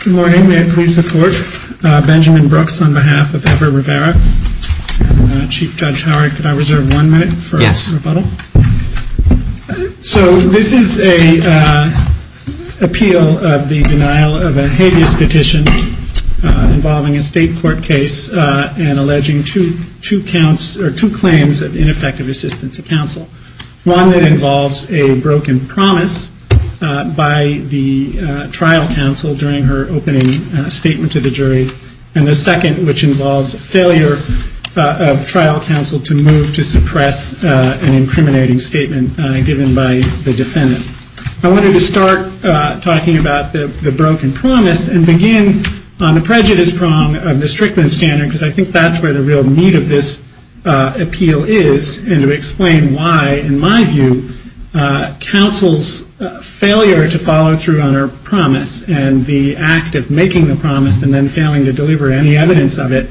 Good morning. May it please the Court. Benjamin Brooks on behalf of Ever Rivera. Chief Judge Howard, could I reserve one minute for rebuttal? Yes. So this is an appeal of the denial of a habeas petition involving a state court case and alleging two claims of ineffective assistance to counsel. One that involves a broken promise by the trial counsel during her opening statement to the jury, and the second which involves failure of trial counsel to move to suppress an incriminating statement given by the defendant. I wanted to start talking about the broken promise and begin on the prejudice prong of the Strickland standard because I think that's where the real meat of this appeal is and to explain why, in my view, counsel's failure to follow through on her promise and the act of making the promise and then failing to deliver any evidence of it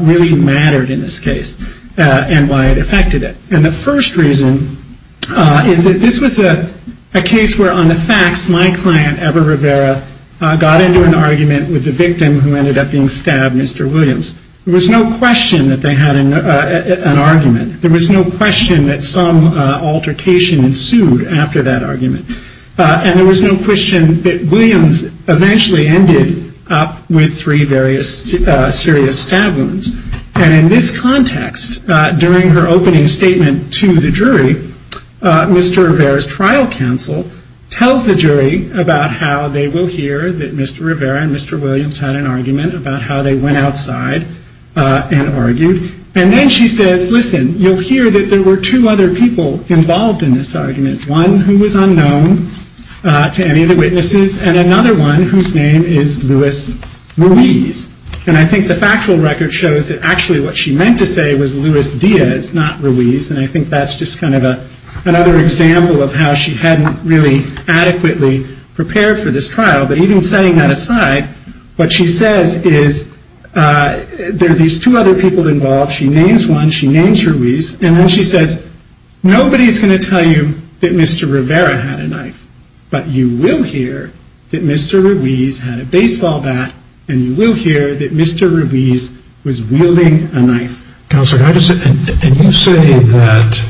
really mattered in this case and why it affected it. And the first reason is that this was a case where, on the facts, my client Ever Rivera got into an argument with the victim who ended up being stabbed, Mr. Williams. There was no question that they had an argument. There was no question that some altercation ensued after that argument. And there was no question that Williams eventually ended up with three various serious stab wounds. And in this context, during her opening statement to the jury, Mr. Rivera's trial counsel tells the jury about how they will hear that Mr. Rivera and argued. And then she says, listen, you'll hear that there were two other people involved in this argument, one who was unknown to any of the witnesses and another one whose name is Luis Ruiz. And I think the factual record shows that actually what she meant to say was Luis Diaz, not Ruiz. And I think that's just kind of another example of how she hadn't really adequately prepared for this trial. But even setting that aside, what she says is there are these two other people involved. She names one. She names Ruiz. And then she says, nobody is going to tell you that Mr. Rivera had a knife, but you will hear that Mr. Ruiz had a baseball bat and you will hear that Mr. Ruiz was wielding a knife. And you say that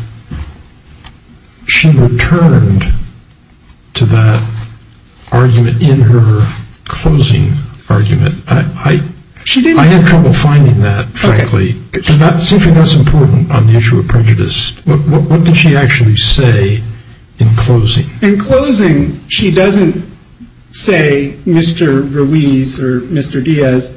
she returned to that argument in her closing argument. I had trouble finding that, frankly. That's important on the issue of prejudice. What did she actually say in closing? In closing, she doesn't say Mr. Ruiz or Mr. Diaz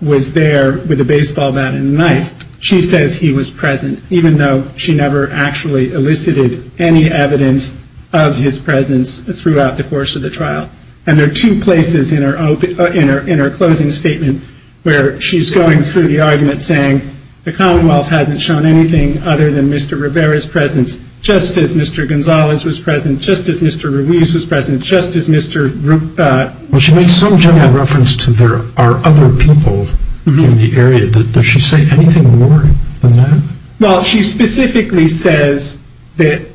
was there with a baseball bat and a knife. She says he was present, even though she never actually elicited any evidence of his presence throughout the course of the trial. And there are two places in her closing statement where she's going through the argument saying the Commonwealth hasn't shown anything other than Mr. Rivera's presence, just as Mr. Gonzalez was present, just as Mr. Ruiz was present, just as Mr. Well, she made some general reference to there are other people in the area. Does she say anything more than that? Well, she specifically says that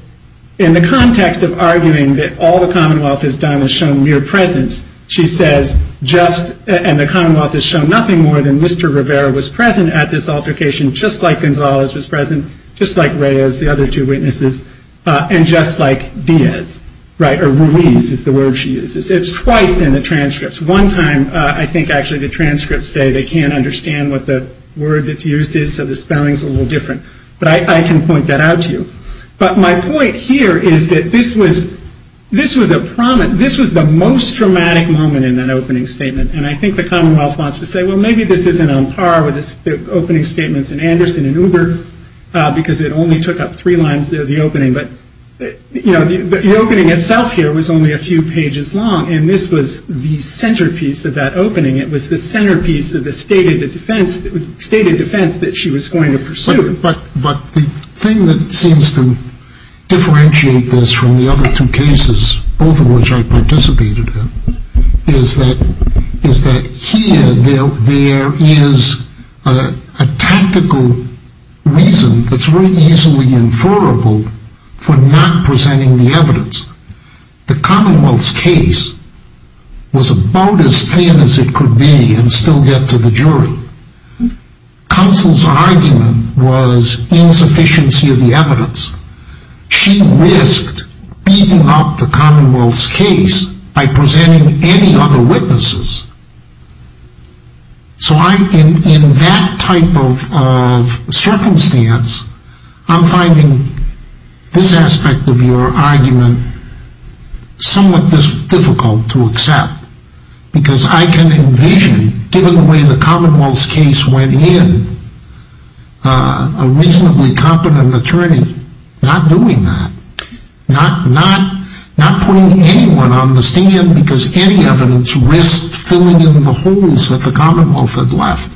in the context of arguing that all the Commonwealth has done is shown mere presence, she says just, and the Commonwealth has shown nothing more than Mr. Rivera was present at this altercation, just like Gonzalez was present, just like Reyes, the other two witnesses, and just like Diaz, right? Or Ruiz is the word she uses. It's twice in the transcripts. One time, I think actually the transcripts say they can't understand what the word that's used is, so the spelling's a little different. But I can point that out to you. But my point here is that this was a prominent, this was the most dramatic moment in that opening statement. And I think the Commonwealth wants to say, well, maybe this isn't on par with the opening statements in Anderson and Uber, because it only took up three lines of the opening. But the opening itself here was only a few pages long, and this was the centerpiece of the stated defense that she was going to pursue. But the thing that seems to differentiate this from the other two cases, both of which I participated in, is that here there is a tactical reason that's very easily inferrable for not presenting the evidence. The Commonwealth's case was about as thin as it could be in the case, but still get to the jury. Counsel's argument was insufficiency of the evidence. She risked beating up the Commonwealth's case by presenting any other witnesses. So in that type of circumstance, I'm finding this aspect of your argument somewhat difficult to accept, because I can envision, given the way the Commonwealth's case went in, a reasonably competent attorney not doing that, not putting anyone on the stand because any evidence risks filling in the holes that the Commonwealth had left.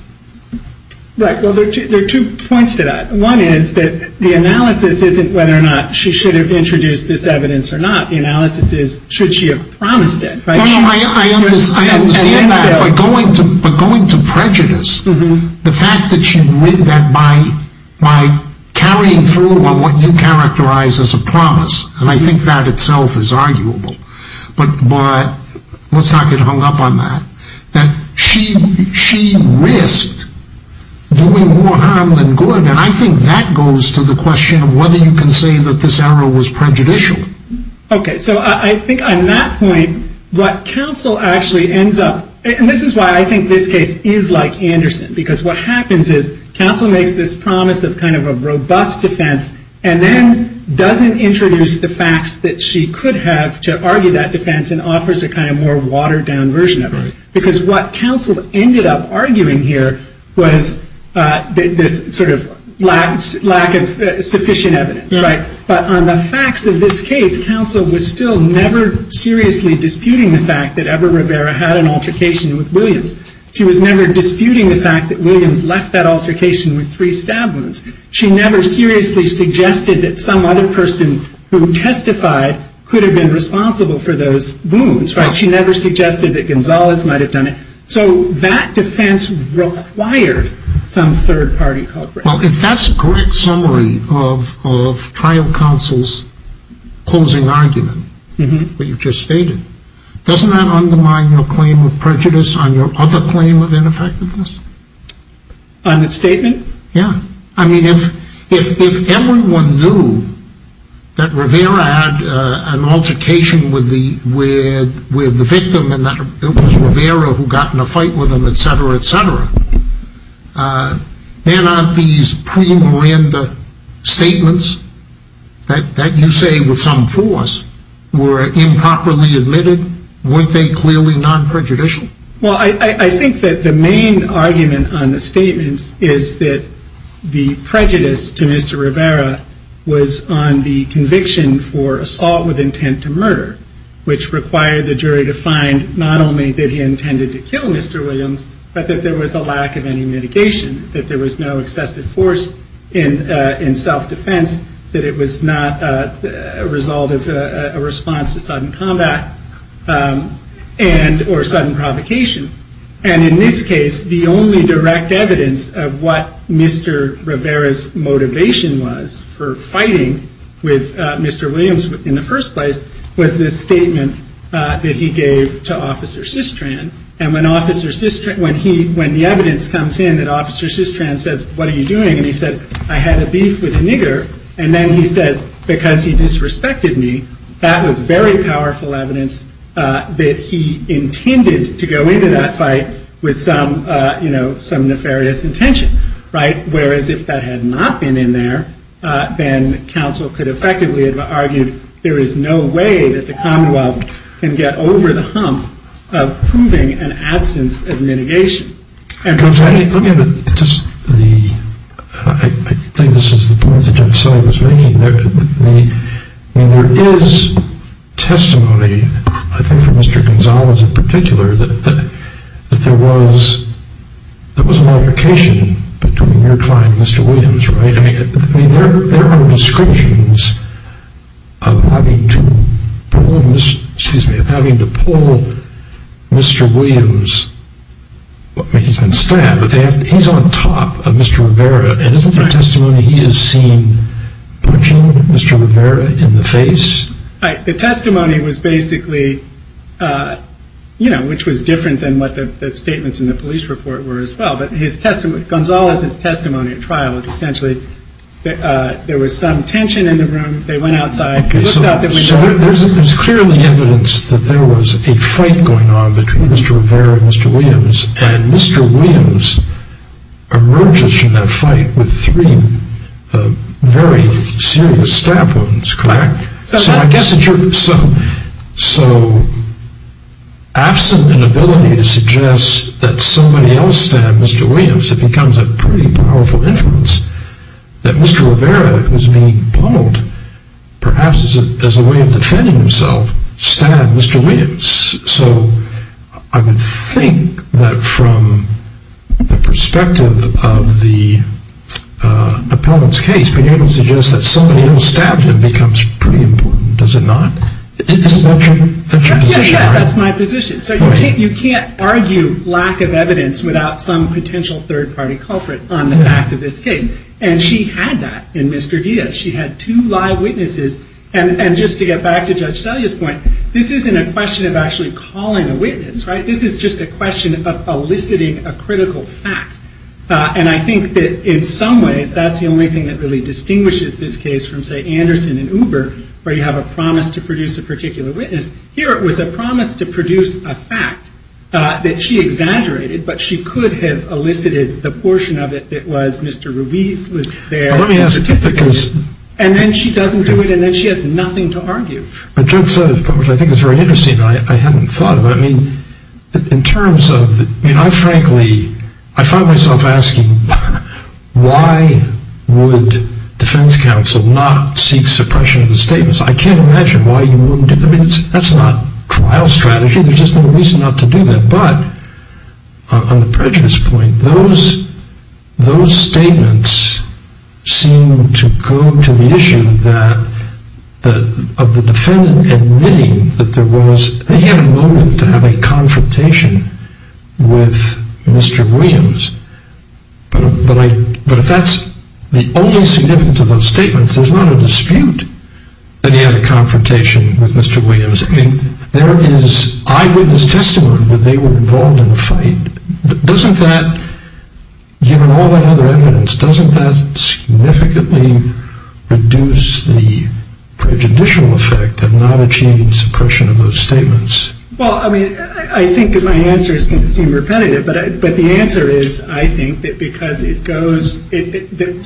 Right. Well, there are two points to that. One is that the analysis isn't whether or not she should have introduced this evidence or not. The analysis is, should she have promised it? No, no, I understand that, but going to prejudice, the fact that she did that by carrying through on what you characterize as a promise, and I think that itself is arguable, but let's not get hung up on that, that she risked doing more harm than good, and I think that goes to the question of whether you can say that this error was prejudicial. Okay, so I think on that point, what counsel actually ends up, and this is why I think this case is like Anderson, because what happens is, counsel makes this promise of kind of a robust defense, and then doesn't introduce the facts that she could have to argue that defense and offers a kind of more watered down version of it, because what counsel ended up arguing here was this sort of lack of sufficient evidence, right? But on the facts of this case, counsel was still never seriously disputing the fact that Eber Rivera had an altercation with Williams. She was never disputing the fact that Williams left that altercation with three stab wounds. She never seriously suggested that some other person who testified could have been responsible for those wounds, right? She never suggested that Gonzalez might have done it. So that defense required some third party cooperation. Well, if that's a correct summary of trial counsel's closing argument, what you've just stated, doesn't that undermine your claim of prejudice on your other claim of ineffectiveness? On the statement? Yeah. I mean, if everyone knew that Rivera had an altercation with the victim, and that it was Rivera who got in a fight with him, etc., etc., then aren't these pre-Miranda statements, that you say with some force, were improperly admitted? Weren't they clearly non-prejudicial? Well, I think that the main argument on the statements is that the prejudice to Mr. Rivera was on the conviction for assault with intent to murder, which required the jury to find not only that he intended to kill Mr. Williams, but that there was a lack of any mitigation, that there was no excessive force in self-defense, that it was not a result of a response to sudden combat, and or sudden provocation. And in this case, the only direct evidence of what Mr. Rivera's motivation was for fighting with Mr. Williams in the first place was this story of Officer Sistran. And when the evidence comes in that Officer Sistran says, what are you doing? And he said, I had a beef with a nigger. And then he says, because he disrespected me, that was very powerful evidence that he intended to go into that fight with some nefarious intention. Whereas if that had not been in there, then counsel could effectively have said, there is no way that the Commonwealth can get over the hump of proving an absence of mitigation. I think this is the point that John Sully was making. I mean, there is testimony, I think from Mr. Gonzalez in particular, that there was an altercation between your client and Mr. Williams, right? I mean, there are descriptions of having to pull Mr. Williams, I mean, he's been stabbed, but he's on top of Mr. Rivera. And isn't the testimony he has seen punching Mr. Rivera in the face? Right. The testimony was basically, you know, which was different than what the statements in the police report were as well. But Gonzalez's testimony at trial was essentially, there was some tension in the room, they went outside, he looked out, there was no... So there's clearly evidence that there was a fight going on between Mr. Rivera and Mr. Williams, and Mr. Williams emerges from that fight with three very serious stab wounds, correct? Correct. So absent an ability to suggest that somebody else stabbed Mr. Williams, it becomes a pretty powerful inference that Mr. Rivera, who's being pwned, perhaps as a way of defending himself, stabbed Mr. Williams. So I would think that from the perspective of the appellant's case, being able to suggest that somebody else stabbed him becomes pretty important, does it not? Yes, that's my position. So you can't argue lack of evidence without some potential third party culprit on the fact of this case. And she had that in Mr. Diaz. She had two live witnesses. And just to get back to Judge Selya's point, this isn't a question of actually calling a witness, right? This is just a question of eliciting a critical fact. And I think that in some ways, that's the only thing that really distinguishes this case from, say, Anderson and Uber, where you have a promise to produce a particular witness. Here it was a promise to produce a fact that she exaggerated, but she could have elicited the portion of it that was Mr. Ruiz was there and participated, and then she doesn't do it, and then she has nothing to argue. But Judge Selya's point, which I think is very interesting, I hadn't thought of it. I mean, in terms of, I mean, I frankly, I find myself asking, why would defense counsel not seek suppression of the statements? I can't imagine why you wouldn't. I mean, that's not trial strategy. There's just no reason not to do that. But on the prejudice point, those statements seem to go to the issue of the defendant admitting that there was, that he had a confrontation with Mr. Williams. But if that's the only significance of those statements, there's not a dispute that he had a confrontation with Mr. Williams. I mean, there is eyewitness testimony that they were involved in a fight. Doesn't that, given all that other evidence, doesn't that significantly reduce the prejudicial effect of not achieving suppression of those statements? Well, I mean, I think that my answer is going to seem repetitive. But the answer is, I think that because it goes,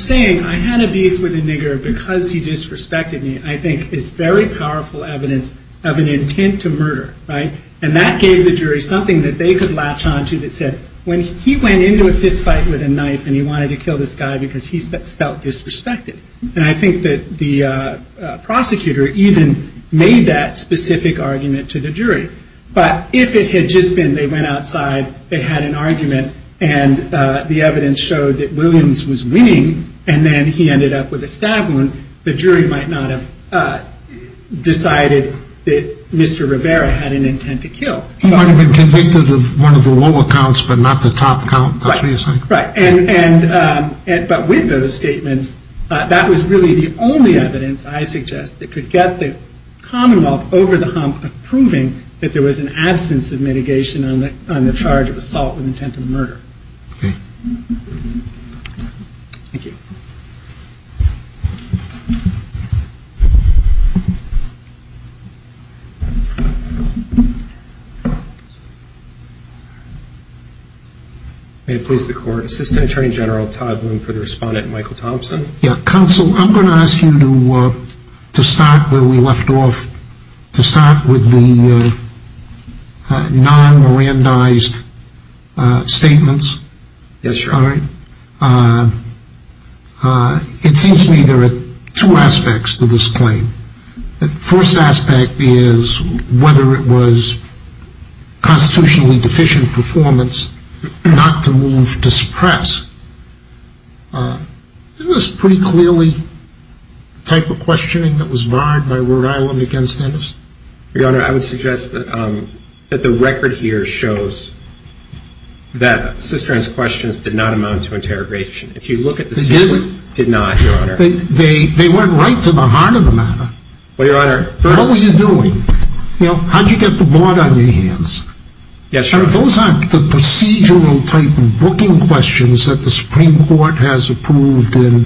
saying, I had a beef with a nigger because he disrespected me, I think is very powerful evidence of an intent to murder, right? And that gave the jury something that they could latch onto that said, when he went into a fistfight with a knife and he wanted to kill this guy because he felt disrespected. And I think that the prosecutor even made that specific argument to the jury. But if it had just been, they went outside, they had an argument, and the evidence showed that Williams was winning, and then he ended up with a stab wound, the jury might not have decided that Mr. Rivera had an intent to kill. He might have been convicted of one of the lower counts, but not the top count, that's what you're saying? Right. And, but with those statements, that was really the only evidence, I suggest, that could get the commonwealth over the hump of proving that there was an absence of mitigation on the charge of assault with intent of murder. Okay. Thank you. May it please the court. Assistant Attorney General Todd Bloom for the respondent, Michael Thompson. Counsel, I'm going to ask you to start where we left off, to start with the non-Mirandized statements. Yes, sir. All right? It seems to me there are two aspects to this claim. The first aspect is whether it was constitutionally deficient performance not to move to suppress. Isn't this pretty clearly the type of questioning that was barred by Rhode Island against Dennis? Your Honor, I would suggest that the record here shows that Sister Ann's questions did not amount to interrogation. If you look at the statement, they did not, Your Honor. They went right to the heart of the matter. Well, Your Honor, first... What were you doing? How did you get the board on your hands? Yes, Your Honor. Those aren't the procedural type of booking questions that the Supreme Court has approved in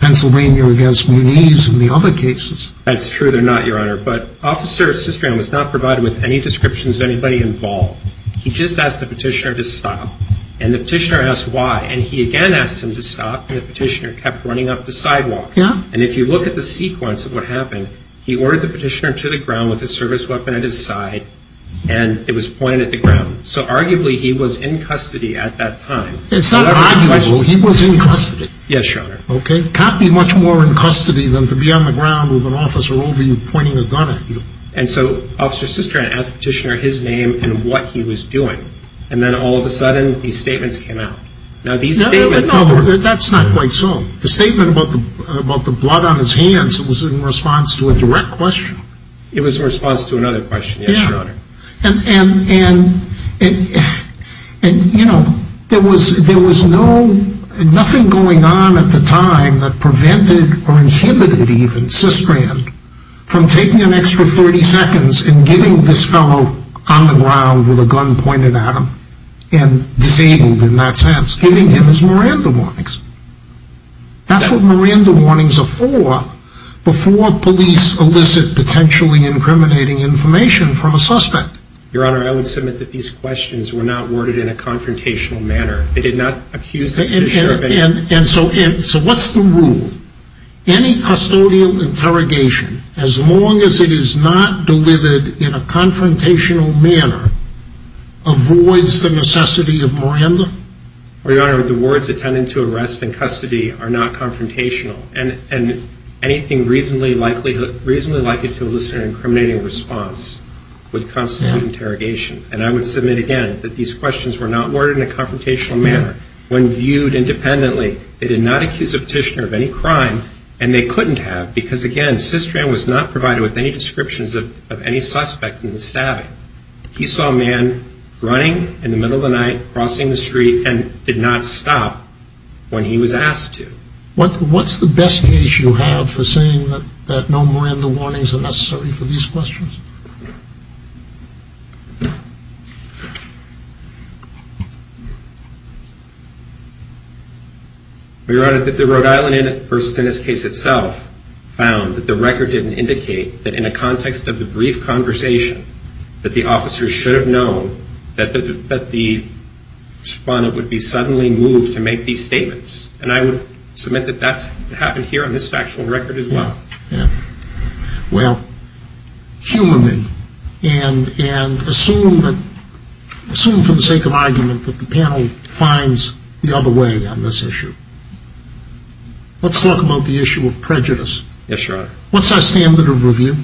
Pennsylvania against Muniz and the other cases. That's true. They're not, Your Honor. But Officer Sister Ann was not provided with any descriptions of anybody involved. He just asked the petitioner to stop. And the petitioner asked why. And he again asked him to stop, and the petitioner kept running up the sidewalk. And if you look at the sequence of what happened, he ordered the petitioner to the ground with a service weapon at his side, and it was pointed at the ground. So arguably, he was in custody at that time. It's not arguable. He was in custody. Yes, Your Honor. Okay. Can't be much more in custody than to be on the ground with an officer over you pointing a gun at you. And so Officer Sister Ann asked the petitioner his name and what he was doing. And then all of a sudden, these statements came out. Now, these statements... No, that's not quite so. The statement about the blood on his hands, it was in response to a direct question. It was in response to another question, yes, Your Honor. Yeah. And, you know, there was nothing going on at the time that prevented or inhibited even Sister Ann from taking an extra 30 seconds and getting this fellow on the ground with a gun pointed at him and disabled in that sense, giving him his Miranda warnings. That's what Miranda warnings are for, before police elicit potentially incriminating information from a suspect. Your Honor, I would submit that these questions were not worded in a confrontational manner. They did not accuse the petitioner of anything. And so what's the rule? Any custodial interrogation, as long as it is not delivered in a confrontational manner, avoids the necessity of Miranda? Well, Your Honor, the words, attending to arrest and custody, are not confrontational. And anything reasonably likely to elicit an incriminating response would constitute interrogation. And I would submit again that these questions were not worded in a confrontational manner. When viewed independently, they did not accuse the petitioner of any crime, and they couldn't have because, again, Sister Ann was not provided with any descriptions of any suspects in the stabbing. He saw a man running in the middle of the night, crossing the street, and did not stop when he was asked to. What's the best case you have for saying that no Miranda warnings are necessary for these questions? Your Honor, that the Rhode Island versus Dennis case itself found that the record didn't indicate that, in a context of the brief conversation, that the officers should have known that the respondent would be suddenly moved to make these statements. And I would submit that that's happened here on this factual record as well. Well, humanly, and assume for the sake of argument that the panel finds the other way on this issue, let's talk about the issue of prejudice. Yes, Your Honor. What's our standard of review?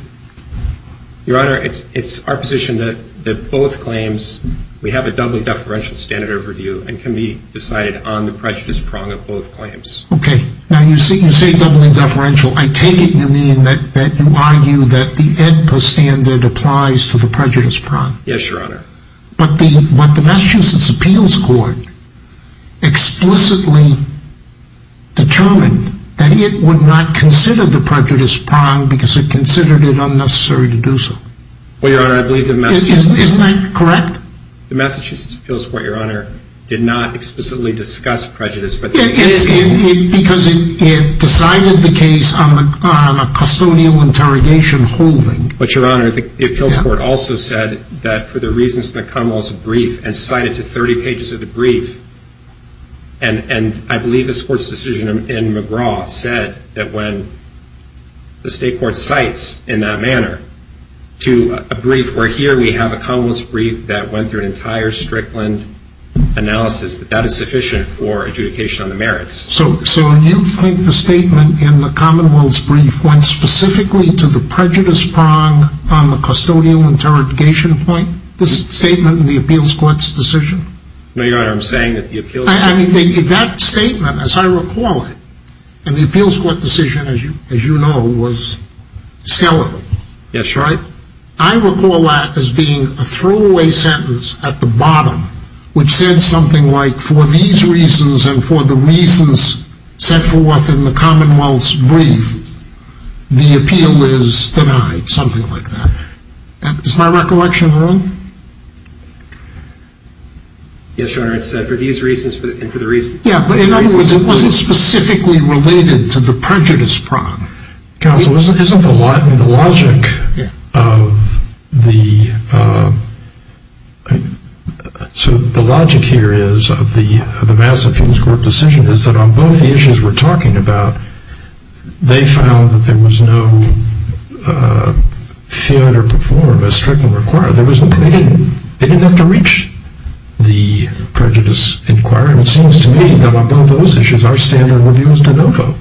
Your Honor, it's our position that both claims, we have a doubly deferential standard of review and can be decided on the prejudice prong of both claims. Okay. Now, you say doubly deferential. I take it you mean that you argue that the Edpa standard applies to the prejudice prong. Yes, Your Honor. But the Massachusetts Appeals Court explicitly determined that it would not consider the prejudice prong because it considered it unnecessary to do so. Well, Your Honor, I believe the Massachusetts... Isn't that correct? The Massachusetts Appeals Court, Your Honor, did not explicitly discuss prejudice, but... Because it decided the case on a custodial interrogation holding. But, Your Honor, I think the Appeals Court also said that for the reasons in the Commonwealth's brief, and cited to 30 pages of the brief, and I believe this Court's decision in McGraw said that when the State Court cites in that manner to a brief, where here we have a Commonwealth's brief that went through an entire Strickland analysis, that that is sufficient for adjudication on the merits. So, you think the statement in the Commonwealth's brief went specifically to the prejudice prong on the custodial interrogation point? This statement in the Appeals Court's decision? No, Your Honor, I'm saying that the Appeals... I mean, that statement, as I recall it, in the Appeals Court decision, as you know, was skeletal. Yes, Your Honor. I recall that as being a throwaway sentence at the bottom, which said something like, for these reasons and for the reasons set forth in the Commonwealth's brief, the appeal is denied. Something like that. Is my recollection wrong? Yes, Your Honor, it said, for these reasons and for the reasons... Yeah, but in other words, it wasn't specifically related to the prejudice prong. Counsel, isn't the logic of the... So, the logic here is, of the Mass Appeals Court decision, is that on both the issues we're talking about, they found that there was no fear to perform as Strickland required. They didn't have to reach the prejudice inquiry. It seems to me that on both those issues, our standard of review is de novo.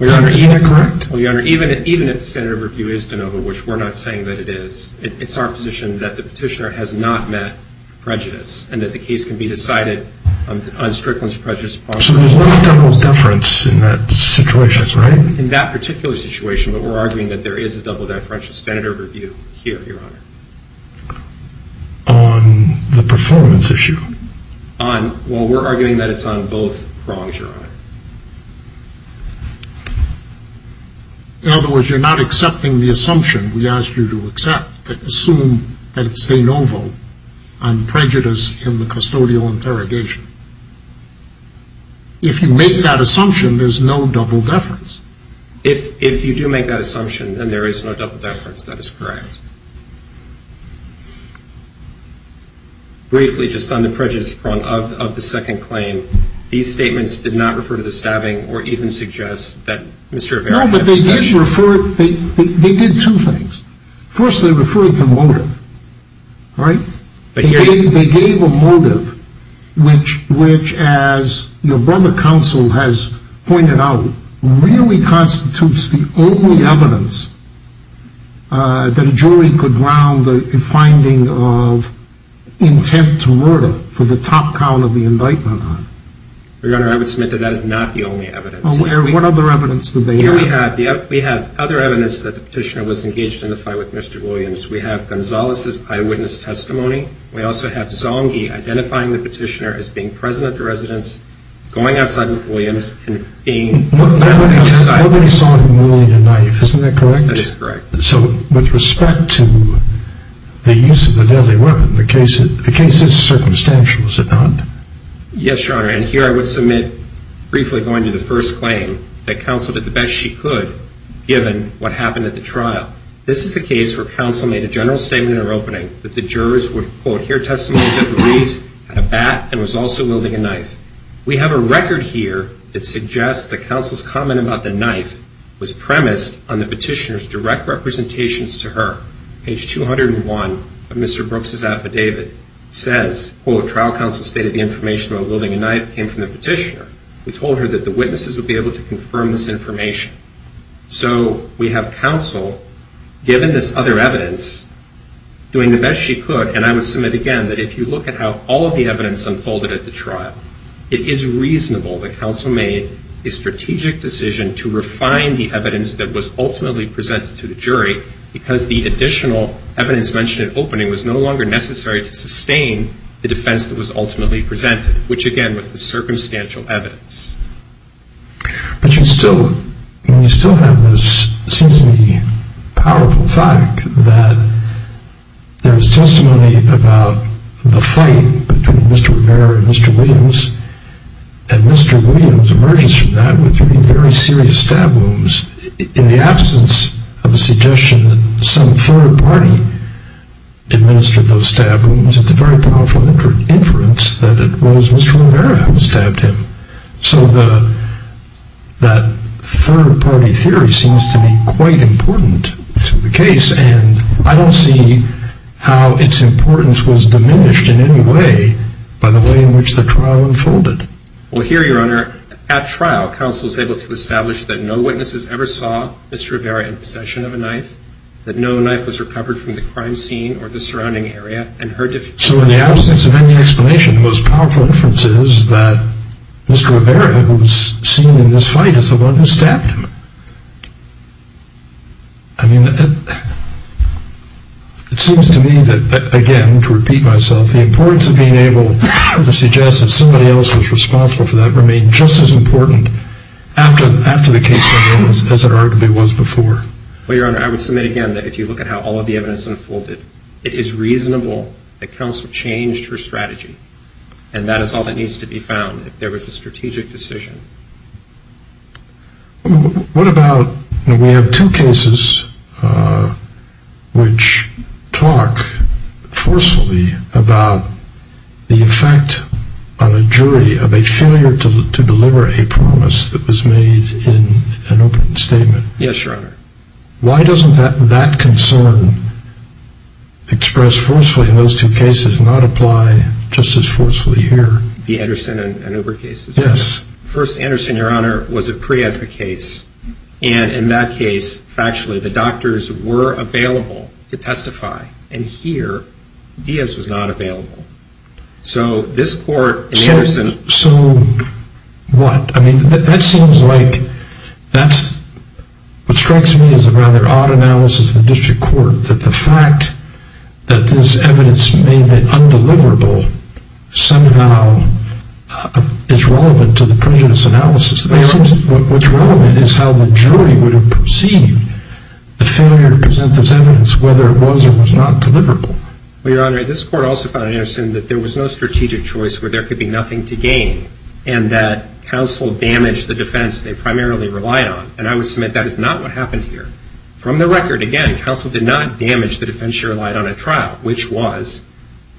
Is that correct? Well, Your Honor, even if the standard of review is de novo, which we're not saying that it is, it's our position that the petitioner has not met prejudice and that the case can be decided on Strickland's prejudice prong. So, there's not a double deference in that situation, right? In that particular situation, but we're arguing that there is a double deferential standard of review here, Your Honor. On the performance issue? Well, we're arguing that it's on both prongs, Your Honor. In other words, you're not accepting the assumption we asked you to accept, that you assume that it's de novo on prejudice in the custodial interrogation. If you make that assumption, there's no double deference. If you do make that assumption, then there is no double deference. That is correct. Briefly, just on the prejudice prong of the second claim, these statements did not refer to the stabbing or even suggest that Mr. Rivera had possession. No, but they did refer, they did two things. First, they referred to motive, right? They gave a motive, which as your brother counsel has pointed out, really constitutes the only evidence that a jury could ground the finding of intent to murder for the top count of the indictment on. Your Honor, I would submit that that is not the only evidence. What other evidence do they have? We have other evidence that the petitioner was engaged in a fight with Mr. Williams. We have Gonzales' eyewitness testimony. We also have Zonghi identifying the petitioner as being present at the residence, going outside with Williams and being... Nobody saw him wielding a knife, isn't that correct? That is correct. So with respect to the use of the deadly weapon, the case is circumstantial, is it not? Yes, Your Honor, and here I would submit, briefly going to the first claim, that counsel did the best she could given what happened at the trial. This is a case where counsel made a general statement in her opening that the jurors would, quote, hear testimony that the police had a bat and was also wielding a knife. We have a record here that suggests that counsel's comment about the knife was premised on the petitioner's direct representations to her. Page 201 of Mr. Brooks' affidavit says, quote, trial counsel stated the information about wielding a knife came from the petitioner. We told her that the witnesses would be able to confirm this information. So we have counsel, given this other evidence, doing the best she could, and I would submit again that if you look at how all of the evidence unfolded at the trial, it is reasonable that counsel made a strategic decision to refine the evidence that was ultimately presented to the jury because the additional evidence mentioned in opening was no longer necessary to sustain the defense that was ultimately presented, which again was the circumstantial evidence. But you still have this, it seems to me, powerful fact that there is testimony about the fight between Mr. Rivera and Mr. Williams, and Mr. Williams emerges from that with three very serious stab wounds. In the absence of a suggestion that some third party administered those stab wounds, it's a very powerful inference that it was Mr. Rivera who stabbed him. So that third party theory seems to be quite important to the case, and I don't see how its importance was diminished in any way by the way in which the trial unfolded. Well here, Your Honor, at trial, counsel was able to establish that no witnesses ever saw Mr. Rivera in possession of a knife, that no knife was recovered from the crime scene or the surrounding area, and her defense... So in the absence of any explanation, the most powerful inference is that Mr. Rivera, who was seen in this fight, is the one who stabbed him. I mean, it seems to me that, again, to repeat myself, the importance of being able to suggest that somebody else was responsible for that remained just as important after the case went in as it arguably was before. Well, Your Honor, I would submit again that if you look at how all of the evidence unfolded, it is reasonable that counsel changed her strategy, and that is all that needs to be found if there was a strategic decision. We have two cases which talk forcefully about the effect on a jury of a failure to deliver a promise that was made in an open statement. Yes, Your Honor. Why doesn't that concern express forcefully in those two cases not apply just as forcefully here? The Anderson and Uber cases? Yes. First, Anderson, Your Honor, was a pre-ed the case, and in that case, factually, the doctors were available to testify. And here, Diaz was not available. So this court... So what? I mean, that seems like... What strikes me is a rather odd analysis of the district court, that the fact that this evidence may have been undeliverable somehow is relevant to the prejudice analysis. What's relevant is how the jury would have perceived the failure to present this evidence, whether it was or was not deliverable. Well, Your Honor, this court also found in Anderson that there was no strategic choice where there could be nothing to gain, and that counsel damaged the defense they primarily relied on. And I would submit that is not what happened here. From the record, again, counsel did not damage the defense she relied on at trial, which was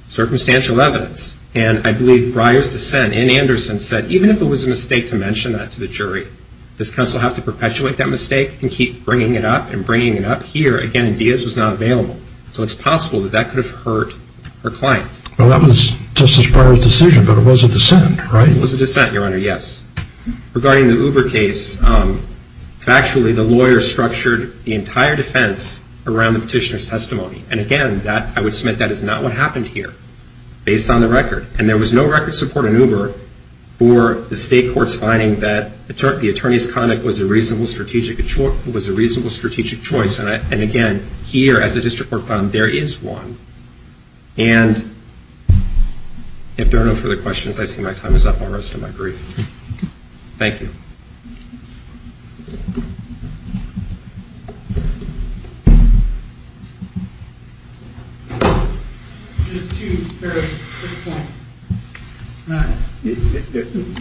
circumstantial evidence. And I believe Breyer's dissent in Anderson said, even if it was a mistake to mention that to the jury, does counsel have to perpetuate that mistake and keep bringing it up and bringing it up? Here, again, Diaz was not available. So it's possible that that could have hurt her client. Well, that was Justice Breyer's decision, but it was a dissent, right? It was a dissent, Your Honor, yes. Regarding the Uber case, factually, the lawyer structured the entire defense around the petitioner's testimony. And again, I would submit that is not what happened here. Based on the record. And there was no record support in Uber for the state court's finding that the attorney's conduct was a reasonable strategic choice. And again, here, as the district court found, there is one. And if there are no further questions, I see my time is up. I'll rest on my brief. Thank you. Thank you.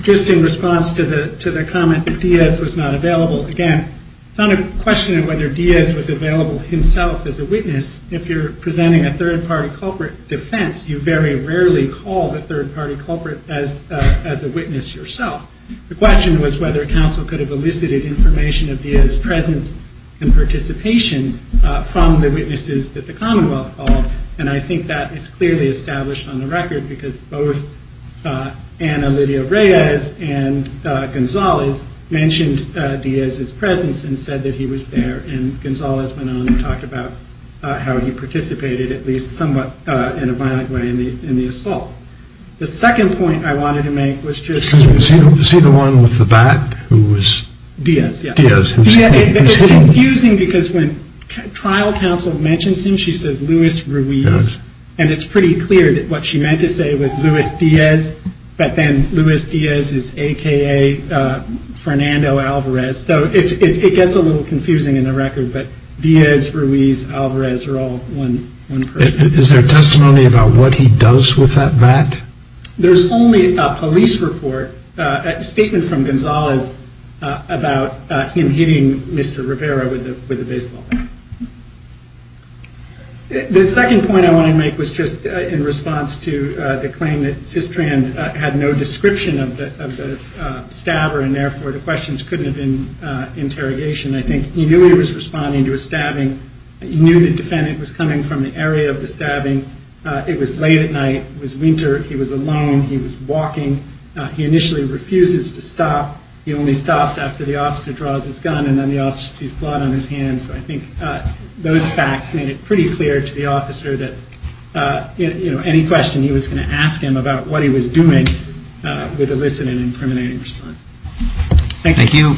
Just in response to the comment that Diaz was not available, again, it's not a question of whether Diaz was available himself as a witness. If you're presenting a third-party culprit defense, you very rarely call the third-party culprit as a witness yourself. The question was whether counsel could have elicited information of Diaz's presence and participation from the witnesses that the Commonwealth called. And I think that is clearly established on the record because both Ana Lydia Reyes and Gonzalez mentioned Diaz's presence and said that he was there. And Gonzalez went on and talked about how he participated at least somewhat in a violent way in the assault. The second point I wanted to make was just... Was he the one with the bat who was... Diaz, yeah. Diaz, who was hitting... It's confusing because when trial counsel mentions him, she says Luis Ruiz. And it's pretty clear that what she meant to say was Luis Diaz, but then Luis Diaz is a.k.a. Fernando Alvarez. So it gets a little confusing in the record, but Diaz, Ruiz, Alvarez are all one person. Is there testimony about what he does with that bat? There's only a police report, a statement from Gonzalez about him hitting Mr. Rivera with a baseball bat. The second point I want to make was just in response to the claim that Cistran had no description of the stabber and therefore the questions couldn't have been interrogation. I think he knew he was responding to a stabbing. He knew the defendant was coming from the area of the stabbing. It was late at night. It was winter. He was alone. He was walking. He initially refuses to stop. He only stops after the officer draws his gun and then the officer sees blood on his hands. So I think those facts made it pretty clear to the officer that any question he was going to ask him about what he was doing would elicit an incriminating response. Thank you.